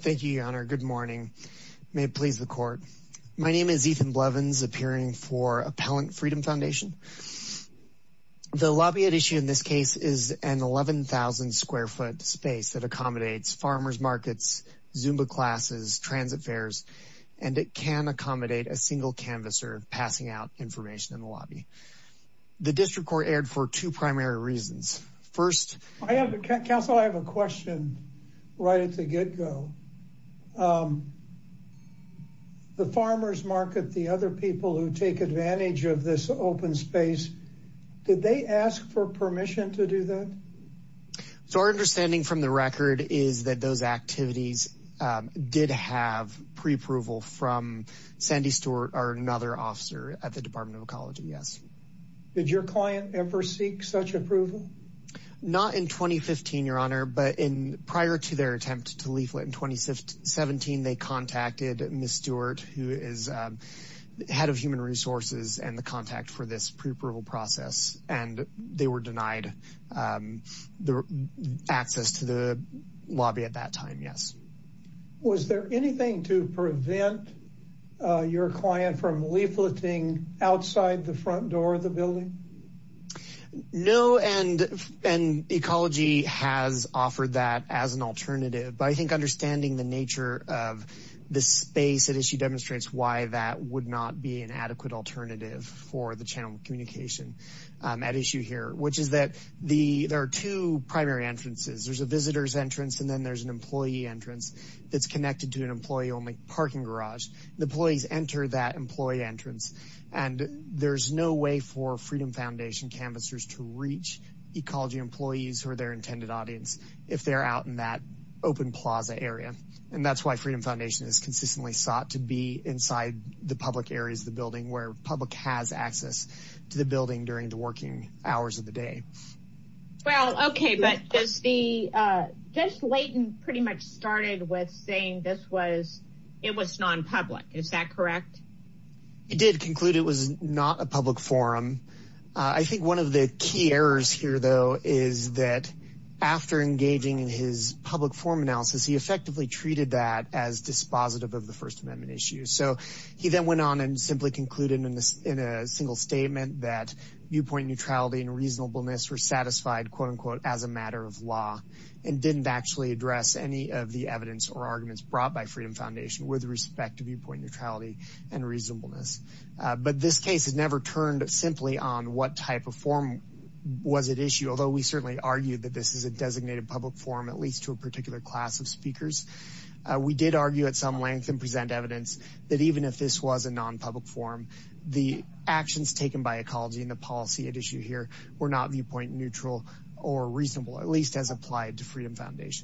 Thank you your honor. Good morning. May it please the court. My name is Ethan Blevins appearing for Appellant Freedom Foundation. The lobby at issue in this case is an 11,000 square foot space that accommodates farmers markets, Zumba classes, transit fares, and it can accommodate a single canvasser passing out information in the lobby. The district court erred for two primary reasons. First... Counsel, I have a question right at the get-go. The farmers market, the other people who take advantage of this open space, did they ask for permission to do that? So our understanding from the record is that those activities did have pre-approval from Sandy Stewart or another officer at the Department of Ecology, yes. Did your client ever seek such approval? Not in 2015 your honor, but in prior to their attempt to leaflet in 2017, they contacted Ms. Stewart who is head of human resources and the contact for this pre-approval process and they were denied the access to the lobby at that time, yes. Was there anything to prevent your client from leafleting outside the front door of the building? No, and Ecology has offered that as an alternative, but I think understanding the nature of the space at issue demonstrates why that would not be an adequate alternative for the channel communication at issue here, which is that there are two primary entrances. There's a visitor's entrance and then there's an employee entrance that's connected to an employee-only parking canvassers to reach Ecology employees or their intended audience if they're out in that open plaza area, and that's why Freedom Foundation is consistently sought to be inside the public areas of the building where public has access to the building during the working hours of the day. Well okay, but Judge Layton pretty much started with saying it was non-public, is that correct? He did conclude it was not a public forum. I think one of the key errors here though is that after engaging in his public forum analysis, he effectively treated that as dispositive of the First Amendment issue. So he then went on and simply concluded in a single statement that viewpoint neutrality and reasonableness were satisfied quote-unquote as a matter of law and didn't actually address any of the evidence or arguments brought by Freedom Foundation with respect to viewpoint neutrality and reasonableness. But this case has never turned simply on what type of forum was at issue, although we certainly argue that this is a designated public forum at least to a particular class of speakers. We did argue at some length and present evidence that even if this was a non-public forum, the actions taken by Ecology and the policy at issue here were not viewpoint neutral or reasonable, at least as applied to the First Amendment.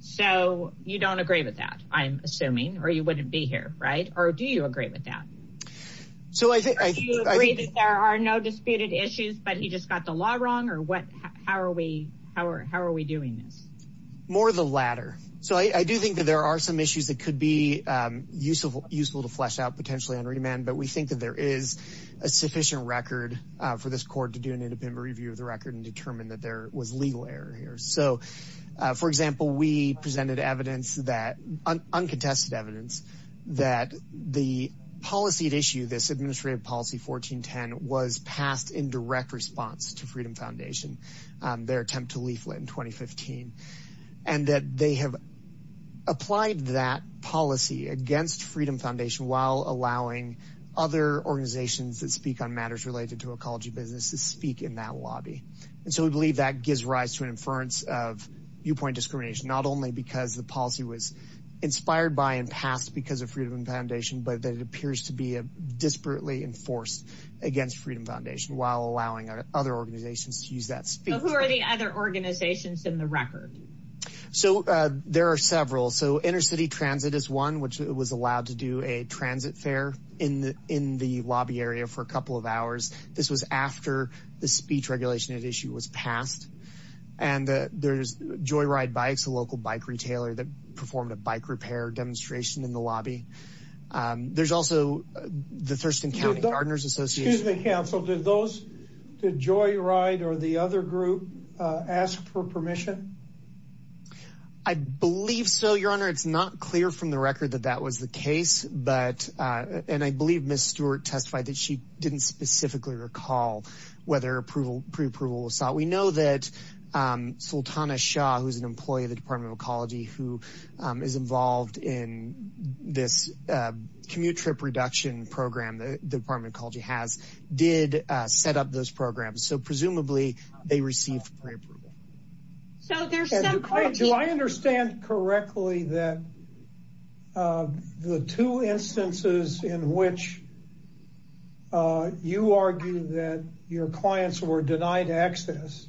So you don't agree with that, I'm assuming, or you wouldn't be here, right? Or do you agree with that? Do you agree that there are no disputed issues, but he just got the law wrong, or how are we doing this? More of the latter. So I do think that there are some issues that could be useful to flesh out potentially on remand, but we think that there is a sufficient record for this court to do an independent review of the record and So, for example, we presented evidence that, uncontested evidence, that the policy at issue, this administrative policy 1410, was passed in direct response to Freedom Foundation, their attempt to leaflet in 2015, and that they have applied that policy against Freedom Foundation while allowing other organizations that speak on matters related to ecology business to speak in that lobby. And so we believe that gives rise to an inference of viewpoint discrimination, not only because the policy was inspired by and passed because of Freedom Foundation, but that it appears to be a disparately enforced against Freedom Foundation while allowing other organizations to use that speech. Who are the other organizations in the record? So there are several. So inner city transit is one, which was allowed to do a transit fair in the lobby area for a couple of hours. This was after the speech regulation at issue was passed. And there's Joyride Bikes, a local bike retailer that performed a bike repair demonstration in the lobby. There's also the Thurston County Gardeners Association. Excuse me, counsel, did Joyride or the other group ask for permission? I believe so, Your Honor. It's not clear from the I believe Ms. Stewart testified that she didn't specifically recall whether approval, preapproval was sought. We know that Sultana Shah, who's an employee of the Department of Ecology, who is involved in this commute trip reduction program that the Department of Ecology has, did set up those programs. So presumably they received preapproval. So there's some Do I understand correctly that the two instances in which you argue that your clients were denied access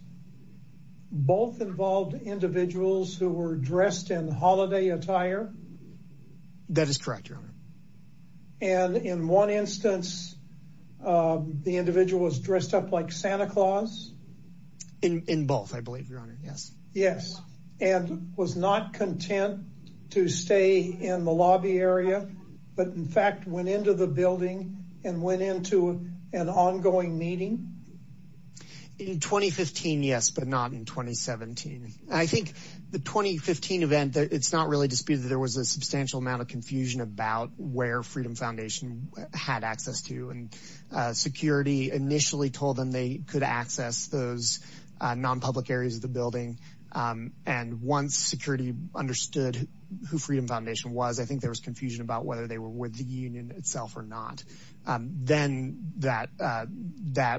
both involved individuals who were dressed in holiday attire? That is correct, Your Honor. And in one instance, the individual was dressed up like Santa Claus. In both, I believe, Your Honor. Yes. Yes. And was not content to stay in the lobby area, but in fact, went into the building and went into an ongoing meeting. In 2015, yes, but not in 2017. I think the 2015 event, it's not really disputed that there was a substantial amount of confusion about where Freedom Foundation had access to. And security initially told them they could access those non-public areas of the building. And once security understood who Freedom Foundation was, I think there was confusion about whether they were with the union itself or not. Then that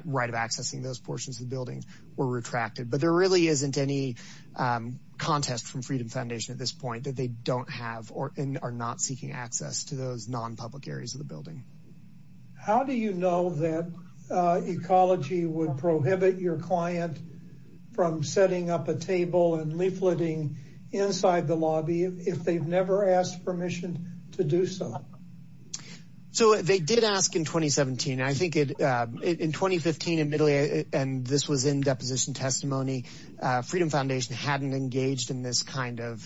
right of accessing those portions of the building were retracted. But there really isn't any contest from Freedom Foundation at this point that they don't have or are not seeking access to those non-public areas of the building. How do you know that Ecology would prohibit your client from setting up a table and leafleting inside the lobby if they've never asked permission to do so? So they did ask in 2017. I think in 2015, admittedly, and this was in deposition testimony, Freedom Foundation hadn't engaged in this kind of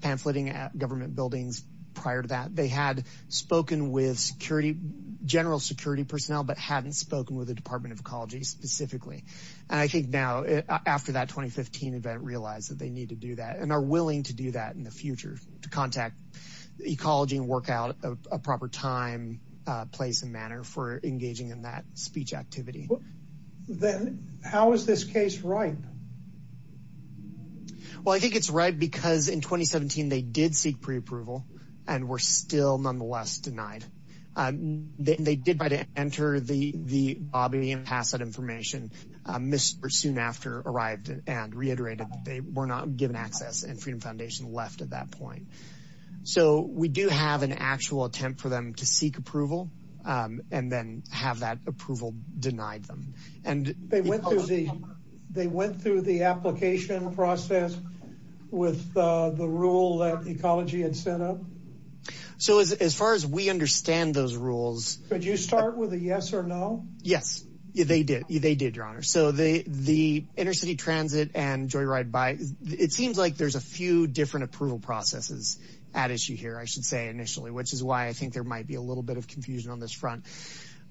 pamphleting at government buildings prior to that. They had spoken with security, general security personnel, but hadn't spoken with the Department of Ecology specifically. And I think now, after that 2015 event, realized that they need to do that and are willing to do that in the future to contact Ecology and work out a proper time, place, and manner for engaging in that speech activity. Then how is this case ripe? Well, I think it's ripe because in 2017, they did seek pre-approval and were still nonetheless denied. They did try to enter the lobby and pass that information. Mr. soon after arrived and reiterated that they were not given access and Freedom Foundation left at that point. So we do have an actual attempt for them to seek approval and then have that approval denied them. They went through the application process with the rule that Ecology had set up? So as far as we understand those rules... Could you start with a yes or no? Yes, they did. They did, your honor. So the inner city transit and joyride bike, it seems like there's a few different approval processes at issue here, I should say, initially, which is why I think there might be a little bit of confusion on this front.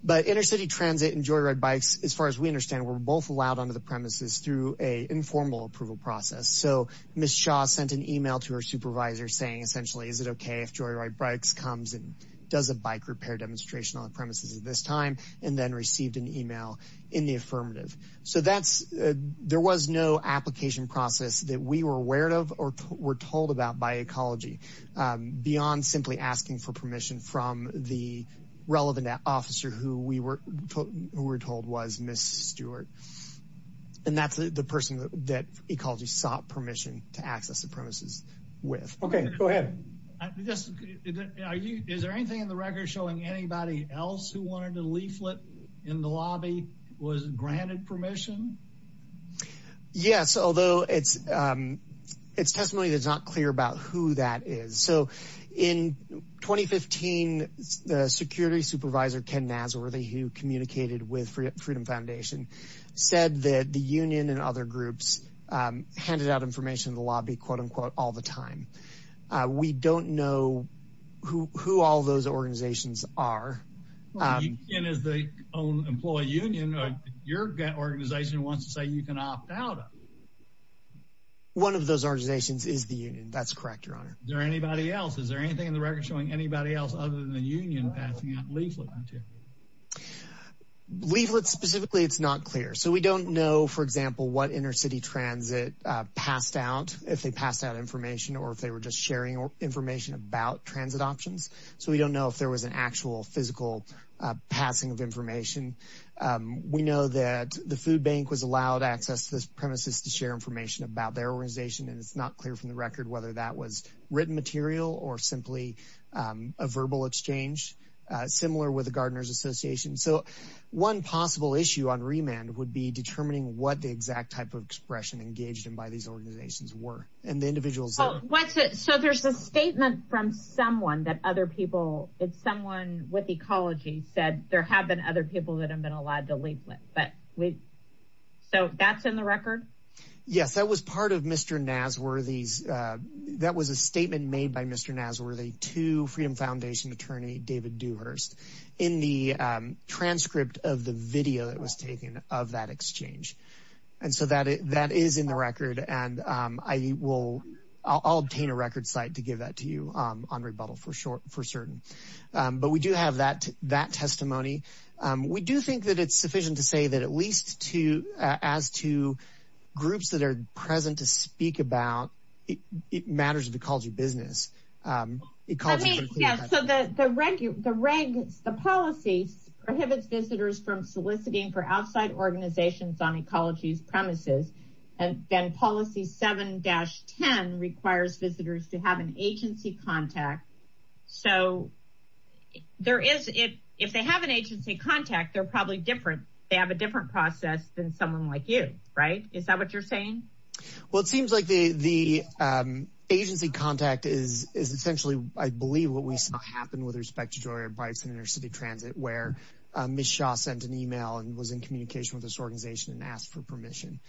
But inner city transit and joyride bikes, as far as we understand, were both allowed onto the premises through an informal approval process. So Ms. Shaw sent an email to her supervisor saying, essentially, is it okay if joyride bikes comes and does a bike repair demonstration on premises at this time, and then received an email in the affirmative. So there was no application process that we were aware of or were told about by Ecology beyond simply asking for permission from the relevant officer who we were told was Ms. Stewart. And that's the person that Ecology sought permission to access the premises with. Okay, go ahead. Is there anything in the record showing anybody else who wanted a leaflet in the lobby was granted permission? Yes, although it's testimony that's not clear about who that is. So in 2015, the security supervisor, Ken Nasworthy, who communicated with Freedom Foundation, said that the union and other groups handed out information in the lobby, quote unquote, all the time. We don't know who all those organizations are. Ken is the own employee union. Your organization wants to say you can opt out? One of those organizations is the union. That's correct, Your Honor. Is there anybody else? Is there anything in the record showing anybody else other than the union passing out leaflet material? Leaflet specifically, it's not clear. So we don't know, for example, what intercity transit passed out, if they passed out information or if they were just sharing information about transit options. So we don't know if there was an actual physical passing of information. We know that the food bank was allowed access to this premises to share information about their organization, and it's not clear from the record whether that was written material or simply a verbal exchange, similar with the Gardeners Association. So one possible issue on remand would be determining what the exact type of expression engaged in by these organizations were and the individuals. So there's a statement from someone that other people, it's someone with ecology, said there have been other people that have been allowed the leaflet. So that's in the record? Yes, that was part of Mr. Nasworthy's, that was a statement made by Mr. Nasworthy to Freedom Foundation attorney David Dewhurst in the transcript of the video that was taken of that I'll obtain a record site to give that to you on rebuttal for sure, for certain. But we do have that testimony. We do think that it's sufficient to say that at least to, as to groups that are present to speak about matters of ecology business. So the reg, the policy prohibits visitors from soliciting for outside organizations on ecology's and then policy 7-10 requires visitors to have an agency contact. So there is, if they have an agency contact, they're probably different, they have a different process than someone like you, right? Is that what you're saying? Well, it seems like the agency contact is essentially, I believe what we saw happen with respect to Joyer Bites and inner city transit where Ms. Shaw sent an email and was in communication with this organization and asked for permission.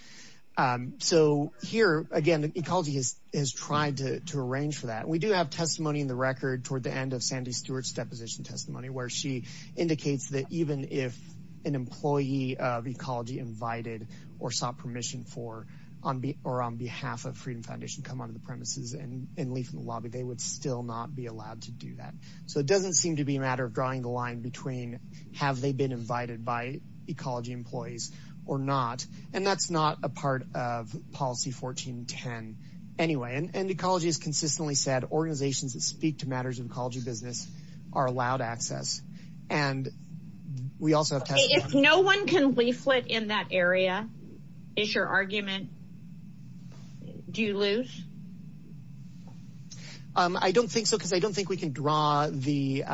So here again, ecology has tried to arrange for that. We do have testimony in the record toward the end of Sandy Stewart's deposition testimony where she indicates that even if an employee of ecology invited or sought permission for on behalf of Freedom Foundation come onto the premises and leave from the lobby, they would still not be allowed to do that. So it doesn't seem to be matter of drawing the line between have they been invited by ecology employees or not. And that's not a part of policy 14-10 anyway. And ecology has consistently said organizations that speak to matters of ecology business are allowed access. And we also have testimony. If no one can leaflet in that area, is your argument, do you lose? I don't think so because I don't think we can draw the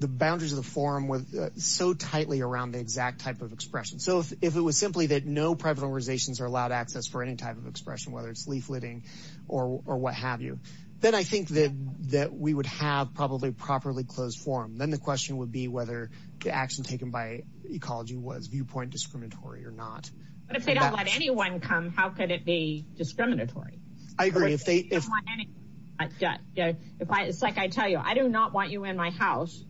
boundaries of the forum with so tightly around the exact type of expression. So if it was simply that no private organizations are allowed access for any type of expression, whether it's leafleting or what have you, then I think that we would have probably properly closed forum. Then the question would be whether the action taken by ecology was viewpoint discriminatory or not. But if they don't let anyone come, how could it be discriminatory? I agree. If they don't want you, I do not want you in my house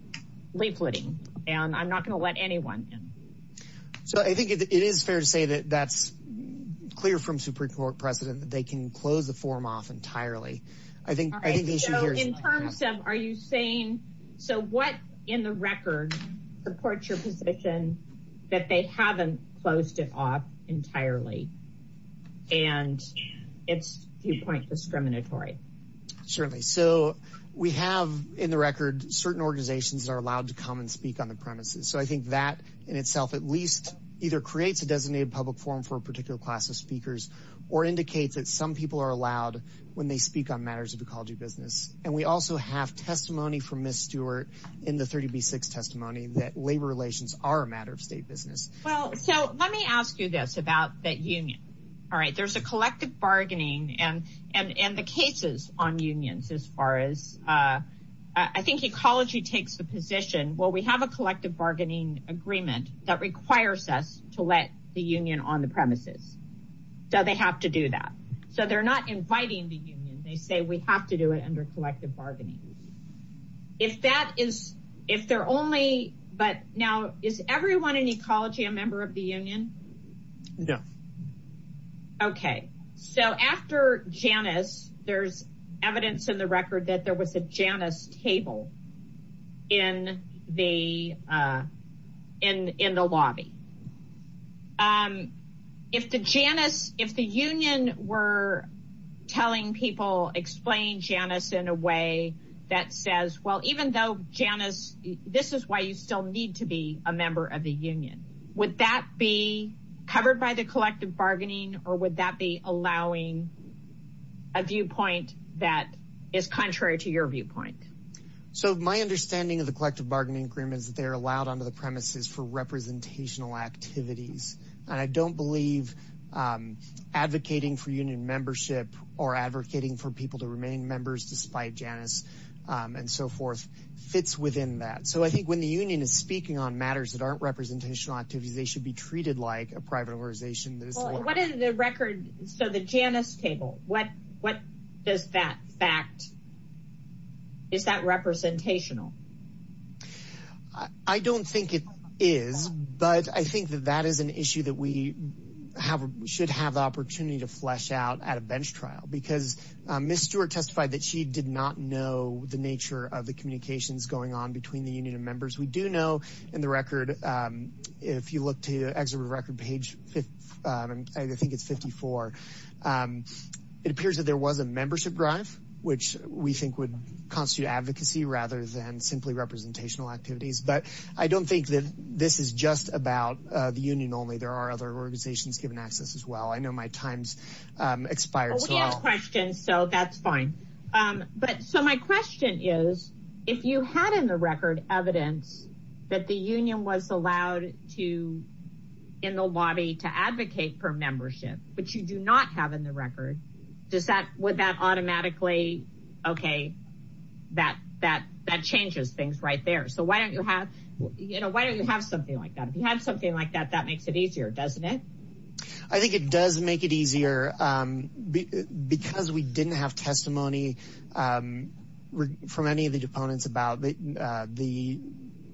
leafleting and I'm not going to let anyone in. So I think it is fair to say that that's clear from Supreme Court precedent that they can close the forum off entirely. I think in terms of are you saying so what in the record supports your position that they haven't closed it off entirely and it's viewpoint discriminatory? Certainly. So we have in the record certain organizations are allowed to come and speak on the premises. So I think that in itself at least either creates a designated public forum for a particular class of speakers or indicates that some people are allowed when they speak on matters of ecology business. And we also have testimony from Ms. Stewart in the 30b6 testimony that labor relations are a matter of state business. Well so let me ask you this about that union. All right there's a uh I think ecology takes the position well we have a collective bargaining agreement that requires us to let the union on the premises. So they have to do that. So they're not inviting the union. They say we have to do it under collective bargaining. If that is if they're only but now is everyone in ecology a member of the union? No. Okay so after Janice there's evidence in the record that was a Janice table in the uh in in the lobby. Um if the Janice if the union were telling people explain Janice in a way that says well even though Janice this is why you still need to be a member of the union. Would that be covered by the collective bargaining or would that be allowing a viewpoint that is contrary to your viewpoint? So my understanding of the collective bargaining agreement is that they are allowed onto the premises for representational activities. And I don't believe um advocating for union membership or advocating for people to remain members despite Janice um and so forth fits within that. So I think when the union is speaking on matters that aren't representational activities they should be treated like a private organization. What is the record so the Janice table what what does that fact is that representational? I don't think it is but I think that that is an issue that we have should have the opportunity to flesh out at a bench trial because Miss Stewart testified that she did not know the nature of the communications going on between the record page um I think it's 54. Um it appears that there was a membership drive which we think would constitute advocacy rather than simply representational activities. But I don't think that this is just about uh the union only there are other organizations given access as well. I know my time's um expired. So we have questions so that's fine. Um but so my question is if you had in the record evidence that the union was allowed to in the lobby to advocate for membership which you do not have in the record does that would that automatically okay that that that changes things right there. So why don't you have you know why don't you have something like that if you have something like that that makes it easier doesn't it? I think it does make it easier um because we didn't have testimony um from any of the opponents about the uh the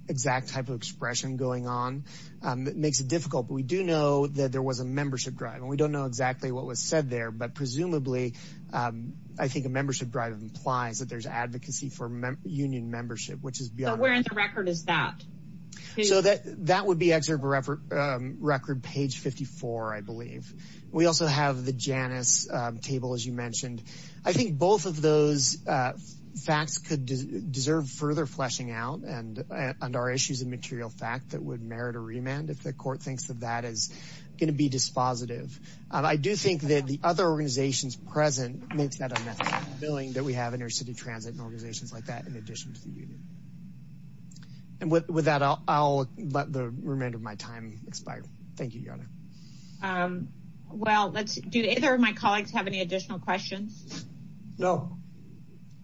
exact type of expression going on um it makes it difficult but we do know that there was a membership drive and we don't know exactly what was said there but presumably um I think a membership drive implies that there's advocacy for union membership which is beyond the record is that so that that would um record page 54 I believe. We also have the Janice um table as you mentioned. I think both of those uh facts could deserve further fleshing out and and our issues of material fact that would merit a remand if the court thinks that that is going to be dispositive. I do think that the other organizations present makes that a method of billing that we have intercity transit and organizations like that in addition to the union. And with that I'll let the remainder of my time expire. Thank you your honor. Um well let's do either of my colleagues have any additional questions? No.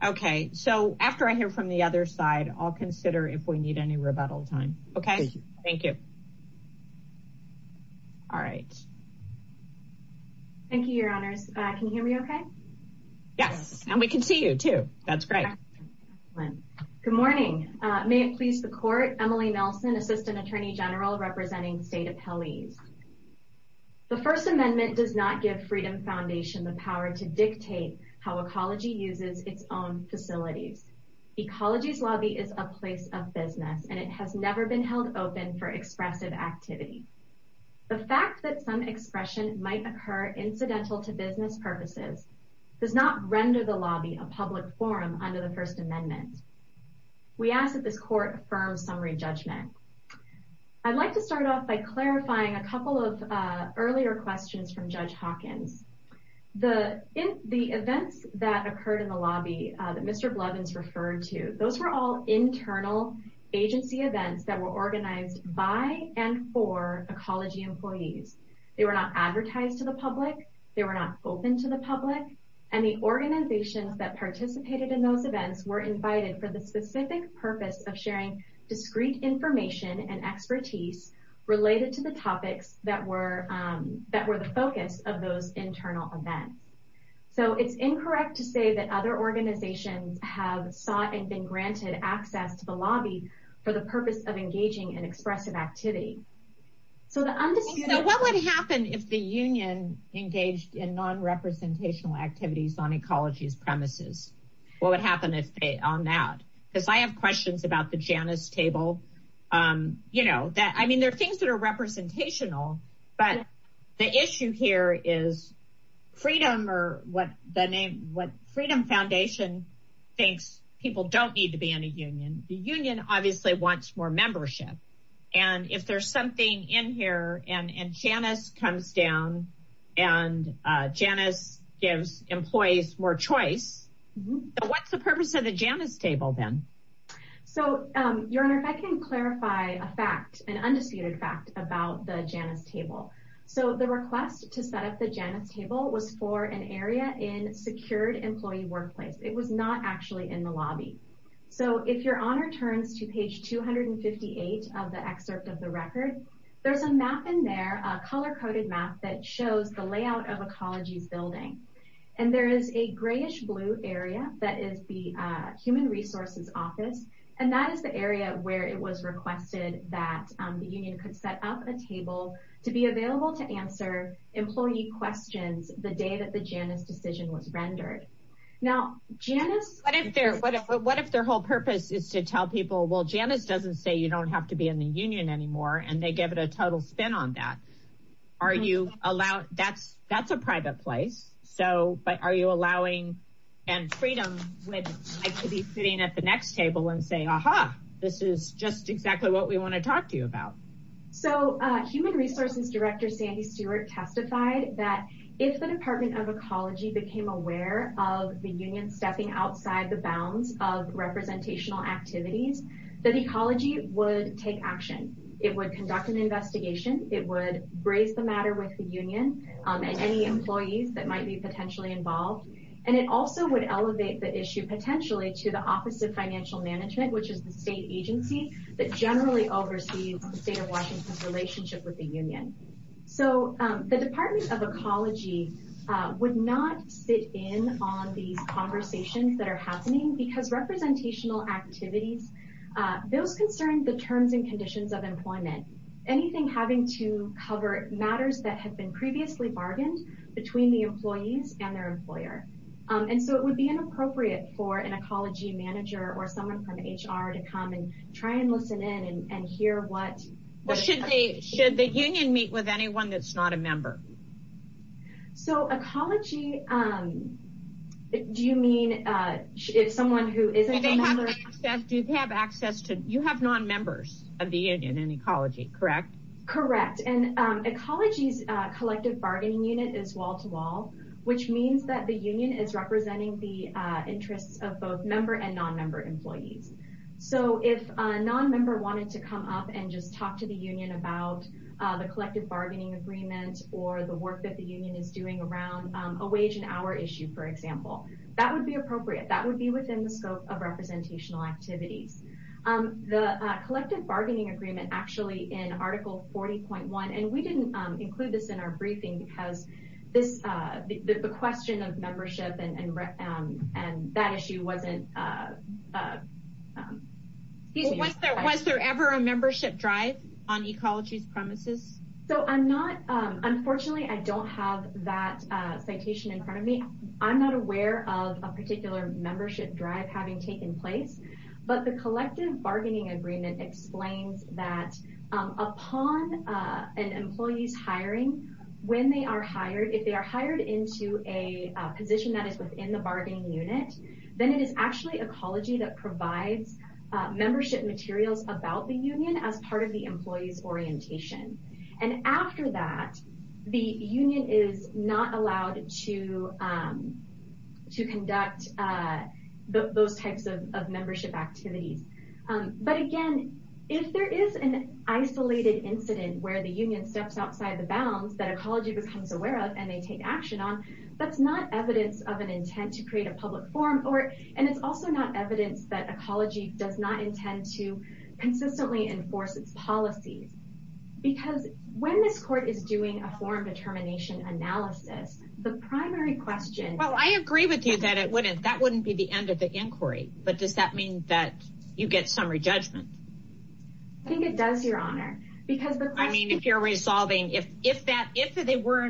Okay so after I hear from the other side I'll consider if we need any rebuttal time. Okay thank you. All right. Thank you your honors. Uh can you hear me okay? Yes and we can see you too. That's great. Good morning. May it please the court. Emily Nelson, assistant attorney general representing state appellees. The first amendment does not give Freedom Foundation the power to dictate how ecology uses its own facilities. Ecology's lobby is a place of business and it has never been held open for expressive activity. The fact that some expression might occur incidental to business purposes does not render the lobby a public forum under the first amendment. We ask that this court affirms summary judgment. I'd like to start off by clarifying a couple of uh earlier questions from Judge Hawkins. The in the events that occurred in the lobby uh that Mr. Blevins referred to those were all They were not advertised to the public. They were not open to the public and the organizations that participated in those events were invited for the specific purpose of sharing discreet information and expertise related to the topics that were um that were the focus of those internal events. So it's incorrect to say that other organizations have sought and been granted access to the lobby for the purpose of engaging in expressive activity. So what would happen if the union engaged in non-representational activities on ecology's premises? What would happen if they on that? Because I have questions about the Janice table um you know that I mean there are things that are representational but the issue here is freedom or what the name what Freedom Foundation thinks people don't need to be in a union. The union obviously wants more membership and if there's something in here and and Janice comes down and Janice gives employees more choice. What's the purpose of the Janice table then? So um your honor if I can clarify a fact an undisputed fact about the Janice table. So the request to set up the Janice table was for an area in secured employee workplace. It was not actually in the 258 of the excerpt of the record. There's a map in there a color-coded map that shows the layout of ecology's building and there is a grayish blue area that is the human resources office and that is the area where it was requested that the union could set up a table to be available to answer employee questions the day that the Janice decision was rendered. Now Janice. What if their whole purpose is to tell people well Janice doesn't say you don't have to be in the union anymore and they give it a total spin on that. Are you allowed that's that's a private place so but are you allowing and freedom with I could be sitting at the next table and saying aha this is just exactly what we want to talk to you about. So uh human resources director Sandy Stewart testified that if the department of ecology became aware of the union stepping outside the bounds of representational activities that ecology would take action. It would conduct an investigation. It would raise the matter with the union and any employees that might be potentially involved and it also would elevate the issue potentially to the office of financial management which is the state agency that generally oversees the state of Washington's relationship with the union. So the department of ecology would not sit in on these conversations that are happening because representational activities those concern the terms and conditions of employment. Anything having to cover matters that have been previously bargained between the employees and their employer and so it would be inappropriate for an ecology manager or someone from HR to come and try and listen in and hear what should they should the union meet with anyone that's not a member. So ecology um do you mean uh if someone who isn't a member. Do they have access to you have non-members of the union in ecology correct? Correct and um ecology's uh collective bargaining unit is wall-to-wall which means that the union is representing the uh interests of both member and non-member employees. So if a non-member wanted to come up and just talk to the union about uh the collective bargaining agreement or the work that the union is doing around a wage and hour issue for example that would be appropriate that would be within the scope of representational activities. The collective bargaining agreement actually in article 40.1 and we didn't include this in our briefing because this uh the question of membership and um and that issue wasn't uh. Was there was there ever a membership drive on ecology's premises? So I'm not um unfortunately I don't have that uh citation in front of me. I'm not aware of a particular membership drive having taken place but the collective bargaining agreement explains that um upon uh an employee's hiring when they are hired if they are hired into a position that is within the bargaining unit then it is actually ecology that provides membership materials about the union as part of the employee's orientation. And after that the union is not allowed to um to conduct uh those types of membership activities. But again if there is an isolated incident where the union steps outside the bounds that ecology becomes aware of and they take action on that's not evidence of an intent to create a public forum or and it's also not evidence that ecology does not intend to consistently enforce its policies. Because when this court is doing a forum determination analysis the primary question. Well I agree with you that it wouldn't that wouldn't be the end of the inquiry but does that mean that you get summary judgment? I think it does your honor because. I mean if you're in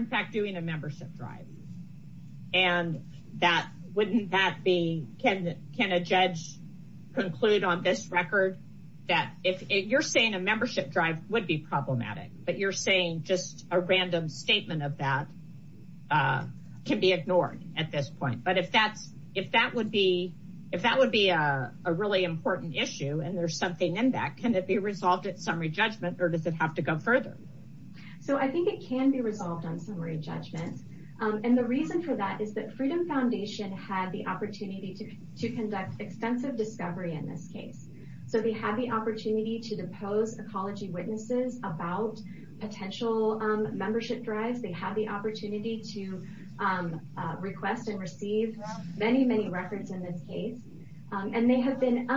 fact doing a membership drive and that wouldn't that be can can a judge conclude on this record that if you're saying a membership drive would be problematic but you're saying just a random statement of that uh can be ignored at this point. But if that's if that would be if that would be a really important issue and there's something in that can it be resolved at summary judgment or does it have to go further? So I think it can be resolved on summary judgment and the reason for that is that Freedom Foundation had the opportunity to conduct extensive discovery in this case. So they had the opportunity to depose ecology witnesses about potential membership drives. They had the opportunity to request and receive many many records in this case and they have been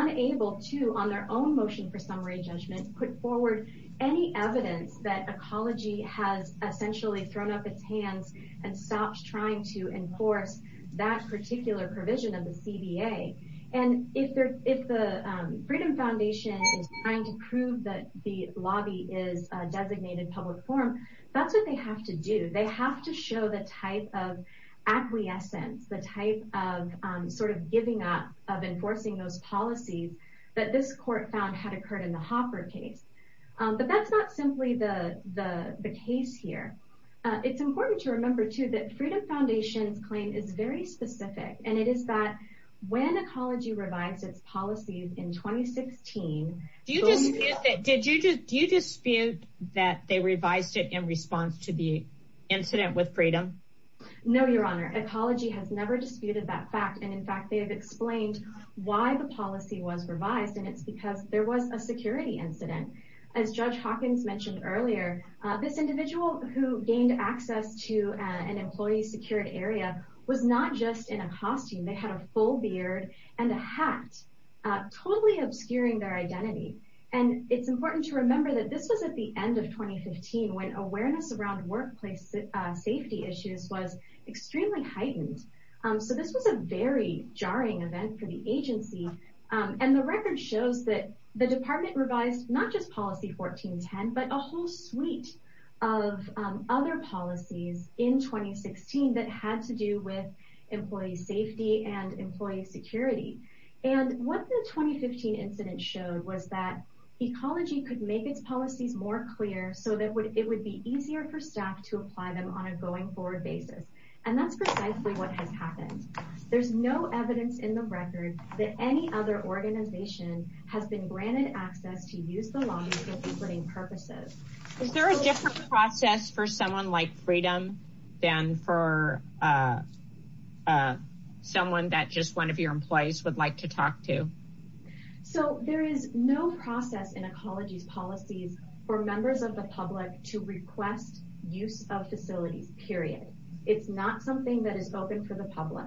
evidence that ecology has essentially thrown up its hands and stopped trying to enforce that particular provision of the CBA and if they're if the Freedom Foundation is trying to prove that the lobby is a designated public forum that's what they have to do. They have to show the type of acquiescence the type of sort of giving up of enforcing those policies that this court found had occurred in the Hopper case. But that's not simply the the the case here. It's important to remember too that Freedom Foundation's claim is very specific and it is that when ecology revised its policies in 2016. Did you just do you dispute that they revised it in response to the incident with Freedom? No your honor ecology has never disputed that fact and in fact they have explained why the policy was revised and it's because there was a security incident. As Judge Hawkins mentioned earlier this individual who gained access to an employee secured area was not just in a costume they had a full beard and a hat totally obscuring their identity and it's important to remember that this was at the end of 2015 when awareness around workplace safety issues was extremely heightened. So this was a very jarring event for the agency and the record shows that the department revised not just policy 1410 but a whole suite of other policies in 2016 that had to do with employee safety and employee security. And what the 2015 incident showed was that ecology could make its policies more clear so that would it would be easier for staff to apply them on a going forward basis and that's precisely what has happened. There's no evidence in the record that any other organization has been granted access to use the lobby for reporting purposes. Is there a different process for someone like Freedom than for someone that just one of your employees would like to talk to? So there is no process in ecology's policies for members of the public to request use of facilities period. It's not something that is open for the public.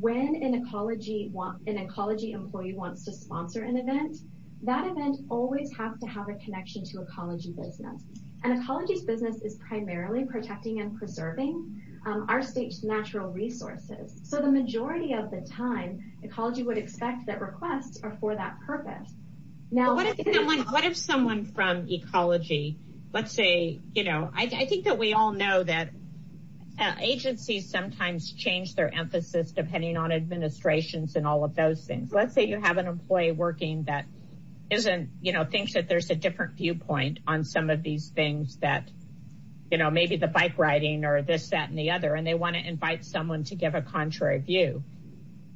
When an ecology employee wants to sponsor an event that event always has to have a connection to ecology business and ecology's business is primarily protecting and preserving our state's natural resources. So the majority of the time ecology would expect that requests are for that purpose. Now what if someone from ecology let's say you know I think that we all know that agencies sometimes change their emphasis depending on administrations and all of those things. Let's say you have an employee working that isn't you know thinks that there's a different viewpoint on some of these things that you know maybe the bike riding or this that and the other and they want to invite someone to give a contrary view.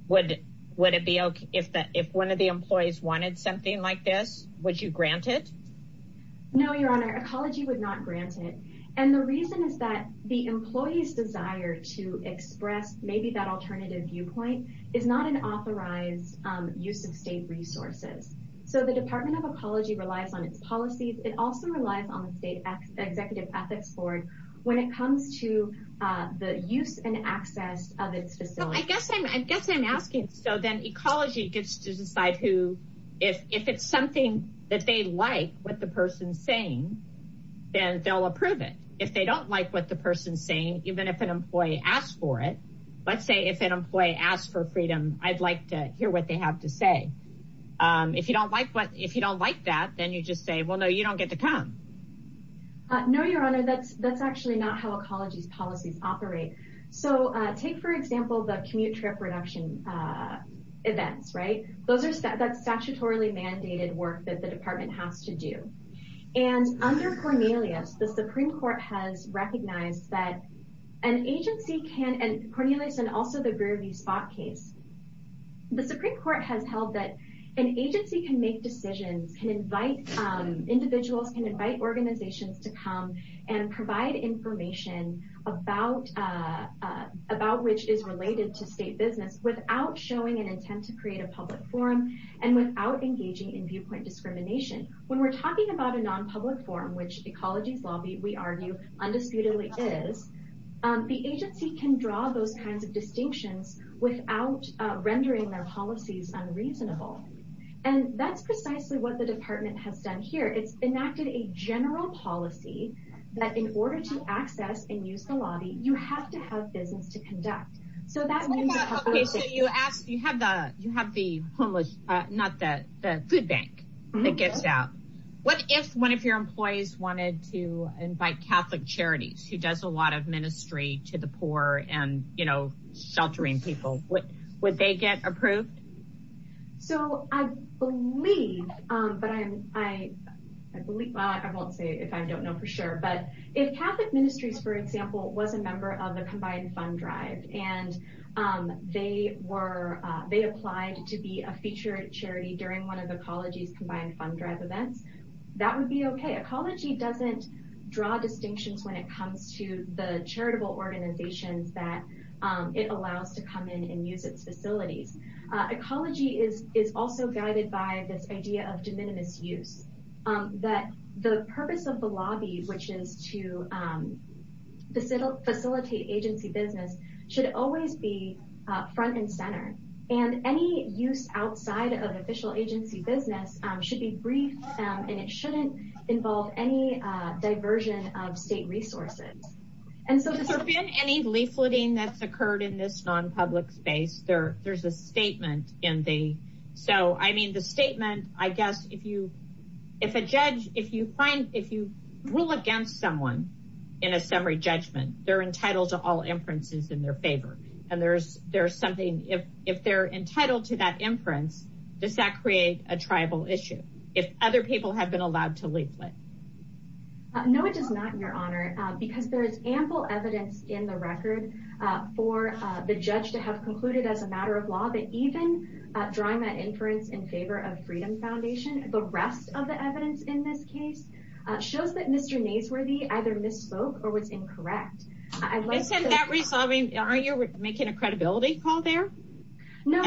Would it be okay if that if one of the employees wanted something like this would you grant it? No your honor ecology would not grant it and the reason is that the employee's desire to express maybe that alternative viewpoint is not an authorized use of state resources. So the department of ecology relies on its policies it also relies on the state executive ethics board when it comes to the use and access of its facility. I guess I'm I guess I'm asking so then ecology gets to decide who if if it's something that they like what the person's saying then they'll approve it. If they don't like what the person's saying even if an employee asks for it let's say if an employee asks for freedom I'd like to hear what they have to say. If you don't like what if you don't like that then you just say well no you don't get to come. No your honor that's that's actually not how ecology's policies operate. So take for example the commute trip reduction events right those are that's statutorily mandated work that the department has to do. And under Cornelius the Supreme Court has recognized that an agency can and Cornelius and also the Greer v. Spock case the Supreme Court has held that an agency can make decisions can invite individuals can invite organizations to come and provide information about about which is related to state business without showing an intent to create a public forum and without engaging in viewpoint discrimination. When we're talking about a non-public forum which ecology's lobby we argue undisputedly is the agency can draw those kinds of distinctions without rendering their policies unreasonable. And that's precisely what the department has done here it's enacted a general policy that in order to access and use the lobby you have to have business to conduct. So that means you ask you have the you have the homeless not that the food bank that gets out what if one of your employees wanted to invite catholic charities who does a lot of would they get approved? So I believe but I'm I believe I won't say if I don't know for sure but if Catholic Ministries for example was a member of the combined fund drive and they were they applied to be a featured charity during one of the ecology's combined fund drive events that would be okay. Ecology doesn't draw distinctions when it comes to the charitable organizations that it allows to come in and use its facilities. Ecology is also guided by this idea of de minimis use that the purpose of the lobby which is to facilitate agency business should always be front and center and any use outside of official agency business should be brief and it shouldn't involve any diversion of state resources. And so there's been any leafleting that's occurred in this non-public space there there's a statement in the so I mean the statement I guess if you if a judge if you find if you rule against someone in a summary judgment they're entitled to all inferences in their favor and there's there's if they're entitled to that inference does that create a tribal issue if other people have been allowed to leaflet? No it does not your honor because there is ample evidence in the record for the judge to have concluded as a matter of law that even drawing that inference in favor of freedom foundation the rest of the evidence in this case shows that Mr. Naseworthy either misspoke or was incorrect. Isn't that resolving aren't you making a credibility call there? No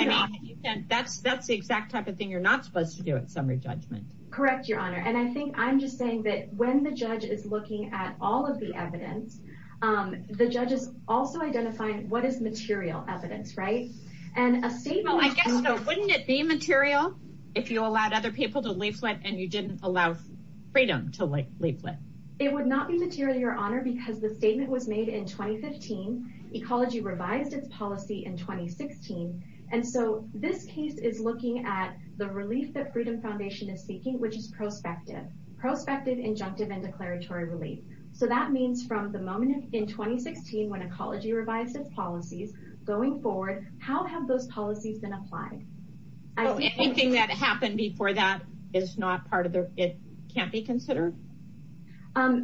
that's that's the exact type of thing you're not supposed to do at summary judgment. Correct your honor and I think I'm just saying that when the judge is looking at all of the evidence the judge is also identifying what is material evidence right and a statement. I guess though wouldn't it be material if you allowed other people to leaflet and you didn't allow freedom to leaflet? It would not be material your honor because the statement was made in 2015 ecology revised its policy in 2016 and so this case is looking at the relief that freedom foundation is seeking which is prospective. Prospective, injunctive, and declaratory relief so that means from the moment in 2016 when ecology revised its policies going forward how have those policies been applied? Anything that happened before that is not part of the it can't be considered?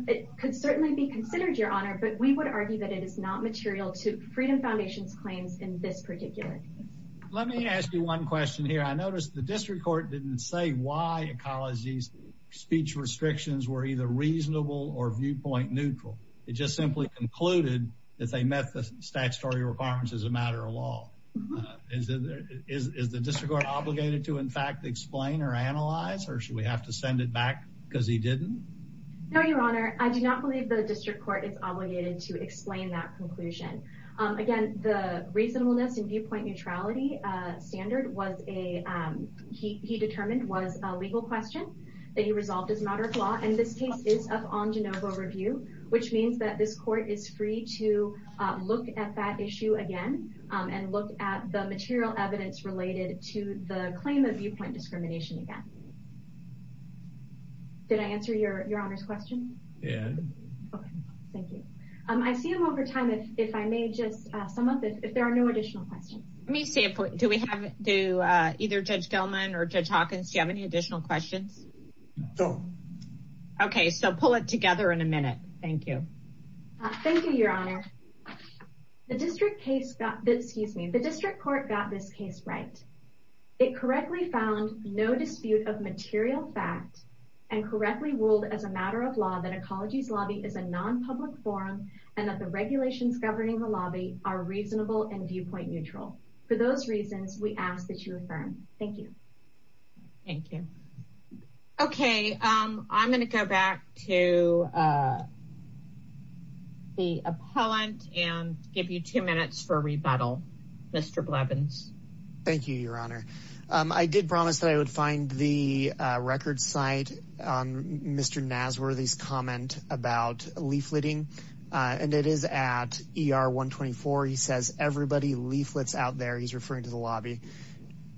It could certainly be considered your honor but we would argue that it is not material to freedom foundation's claims in this particular. Let me ask you one question here I noticed the district court didn't say why ecology's speech restrictions were either reasonable or viewpoint neutral it just simply concluded that they met the statutory requirements as a matter of law. Is the district court obligated to in fact explain or analyze or should we have to send it back because he didn't? No your honor I do not believe the district court is obligated to explain that conclusion. Again the reasonableness and viewpoint neutrality standard was a he determined was a legal question that he resolved as a matter of law and this case is up on jenova review which means that this court is free to look at that issue again and look at the material evidence related to the claim of viewpoint discrimination again. Did I answer your your honor's question? Yeah. Okay thank you. I see him over time if if I may just sum up if there are no additional questions. Let me say a point do we have do either Judge Gelman or Judge Hawkins do you have any additional questions? No. Okay so pull it together in a minute. Thank you. Thank you your honor. The district case got excuse me the district court got this case right. It correctly found no dispute of material fact and correctly ruled as a matter of law that ecology's lobby is a non-public forum and that the regulations governing the lobby are reasonable and viewpoint neutral. For those reasons we ask that you affirm. Thank you. Thank you. Okay I'm going to go back to the appellant and give you two minutes for rebuttal Mr. Blevins. Thank you your honor. I did promise that I would find the record site on Mr. Nasworthy's comment about leafleting and it is at ER 124. He says everybody leaflets out there. He's referring to lobby.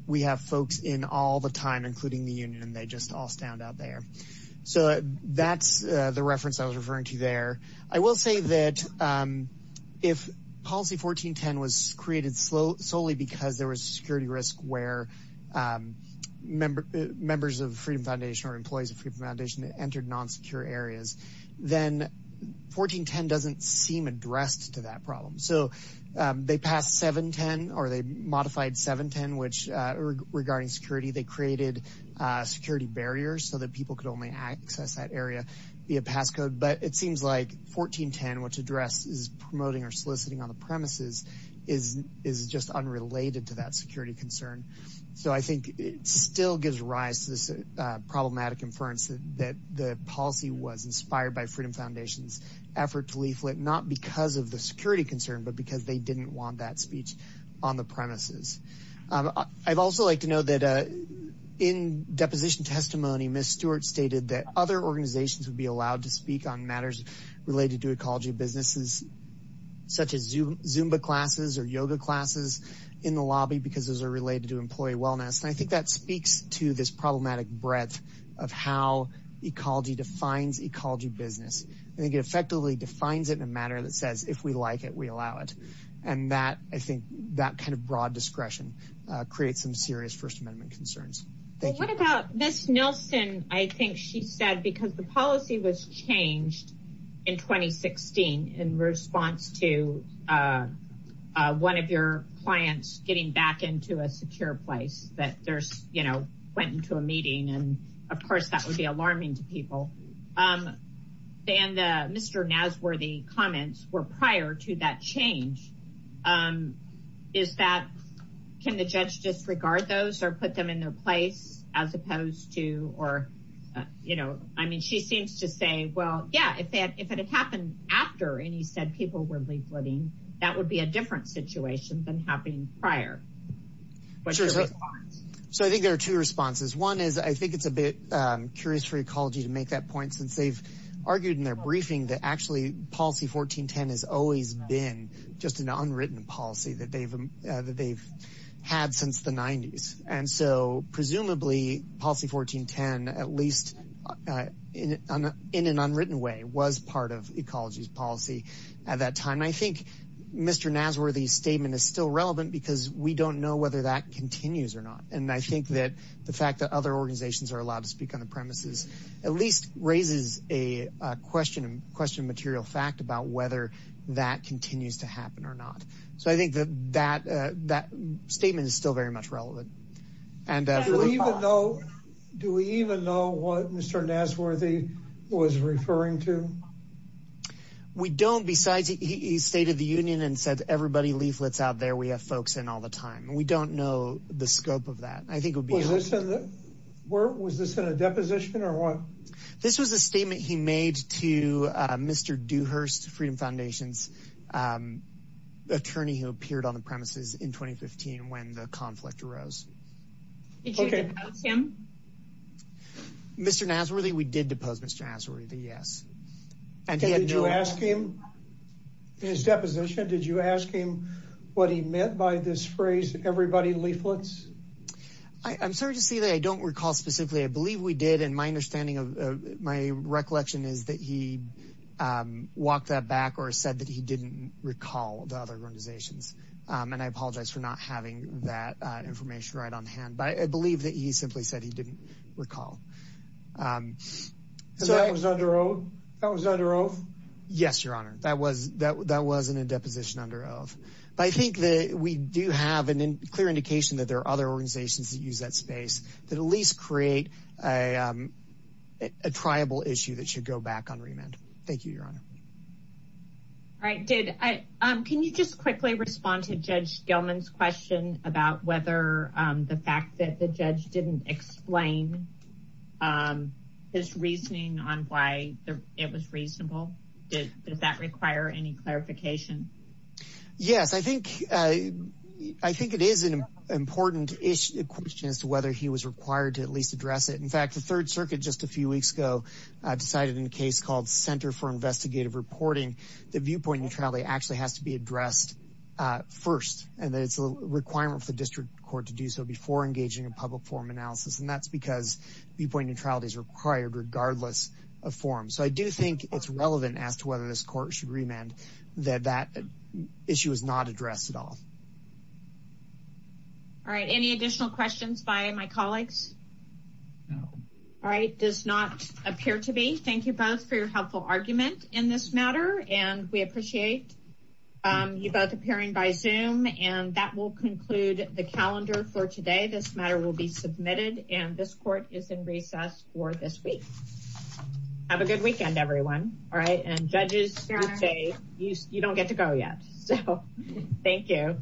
We have folks in all the time including the union and they just all stand out there. So that's the reference I was referring to there. I will say that if policy 1410 was created solely because there was a security risk where members of Freedom Foundation or employees of Freedom Foundation entered non-secure areas then 1410 doesn't seem addressed to that problem. So they passed 710 or they modified 710 which regarding security they created security barriers so that people could only access that area via passcode. But it seems like 1410 which address is promoting or soliciting on the premises is is just unrelated to that security concern. So I think it still gives rise to this problematic inference that the policy was inspired by Freedom they didn't want that speech on the premises. I'd also like to know that in deposition testimony Ms. Stewart stated that other organizations would be allowed to speak on matters related to ecology businesses such as Zumba classes or yoga classes in the lobby because those are related to employee wellness. And I think that speaks to this problematic breadth of how ecology defines ecology business. I think it effectively defines it in a matter that says if we like it we allow it. And that I think that kind of broad discretion creates some serious First Amendment concerns. Thank you. What about Ms. Nelson I think she said because the policy was changed in 2016 in response to one of your clients getting back into a secure place that there's you know went into a meeting and of course that would be alarming to people. They and the Mr. Nasworthy comments were prior to that change. Is that can the judge disregard those or put them in their place as opposed to or you know I mean she seems to say well yeah if that if it had happened after and he said people were leafleting that would be a different situation than happening prior. So I think there are two responses. One is I think it's a bit curious for ecology to make that point since they've policy 1410 has always been just an unwritten policy that they've that they've had since the 90s. And so presumably policy 1410 at least in an unwritten way was part of ecology's policy at that time. I think Mr. Nasworthy's statement is still relevant because we don't know whether that continues or not. And I think that the fact that other organizations are allowed to speak on whether that continues to happen or not. So I think that that that statement is still very much relevant. Do we even know what Mr. Nasworthy was referring to? We don't besides he stated the union and said everybody leaflets out there we have folks in all the time. We don't know the scope of that. I think it would be. Was this in a deposition or what? This was a statement he made to Mr. Dewhurst Freedom Foundation's attorney who appeared on the premises in 2015 when the conflict arose. Did you depose him? Mr. Nasworthy we did depose Mr. Nasworthy yes. And did you ask him in his deposition did you ask him what he meant by this phrase everybody leaflets? I'm sorry to say that I don't recall specifically. I believe we did and my understanding my recollection is that he walked that back or said that he didn't recall the other organizations. And I apologize for not having that information right on hand. But I believe that he simply said he didn't recall. So that was under oath? That was under oath? Yes your honor that was that that wasn't a deposition under oath. But I think that we do have a clear indication that there are other organizations that use that space that at least create a triable issue that should go back on remand. Thank you your honor. All right did I can you just quickly respond to Judge Gilman's question about whether the fact that the judge didn't explain his reasoning on why it was a question as to whether he was required to at least address it. In fact the third circuit just a few weeks ago decided in a case called center for investigative reporting the viewpoint neutrality actually has to be addressed first. And that it's a requirement for district court to do so before engaging in public forum analysis. And that's because viewpoint neutrality is required regardless of forum. So I do think it's relevant as to whether this court should remand that that issue is not addressed at all. All right any additional questions by my colleagues? No. All right does not appear to be. Thank you both for your helpful argument in this matter. And we appreciate you both appearing by zoom. And that will conclude the calendar for today. This matter will be submitted and this court is in recess for this week. Have a good weekend everyone. All right and judges you don't get to go yet. So thank you.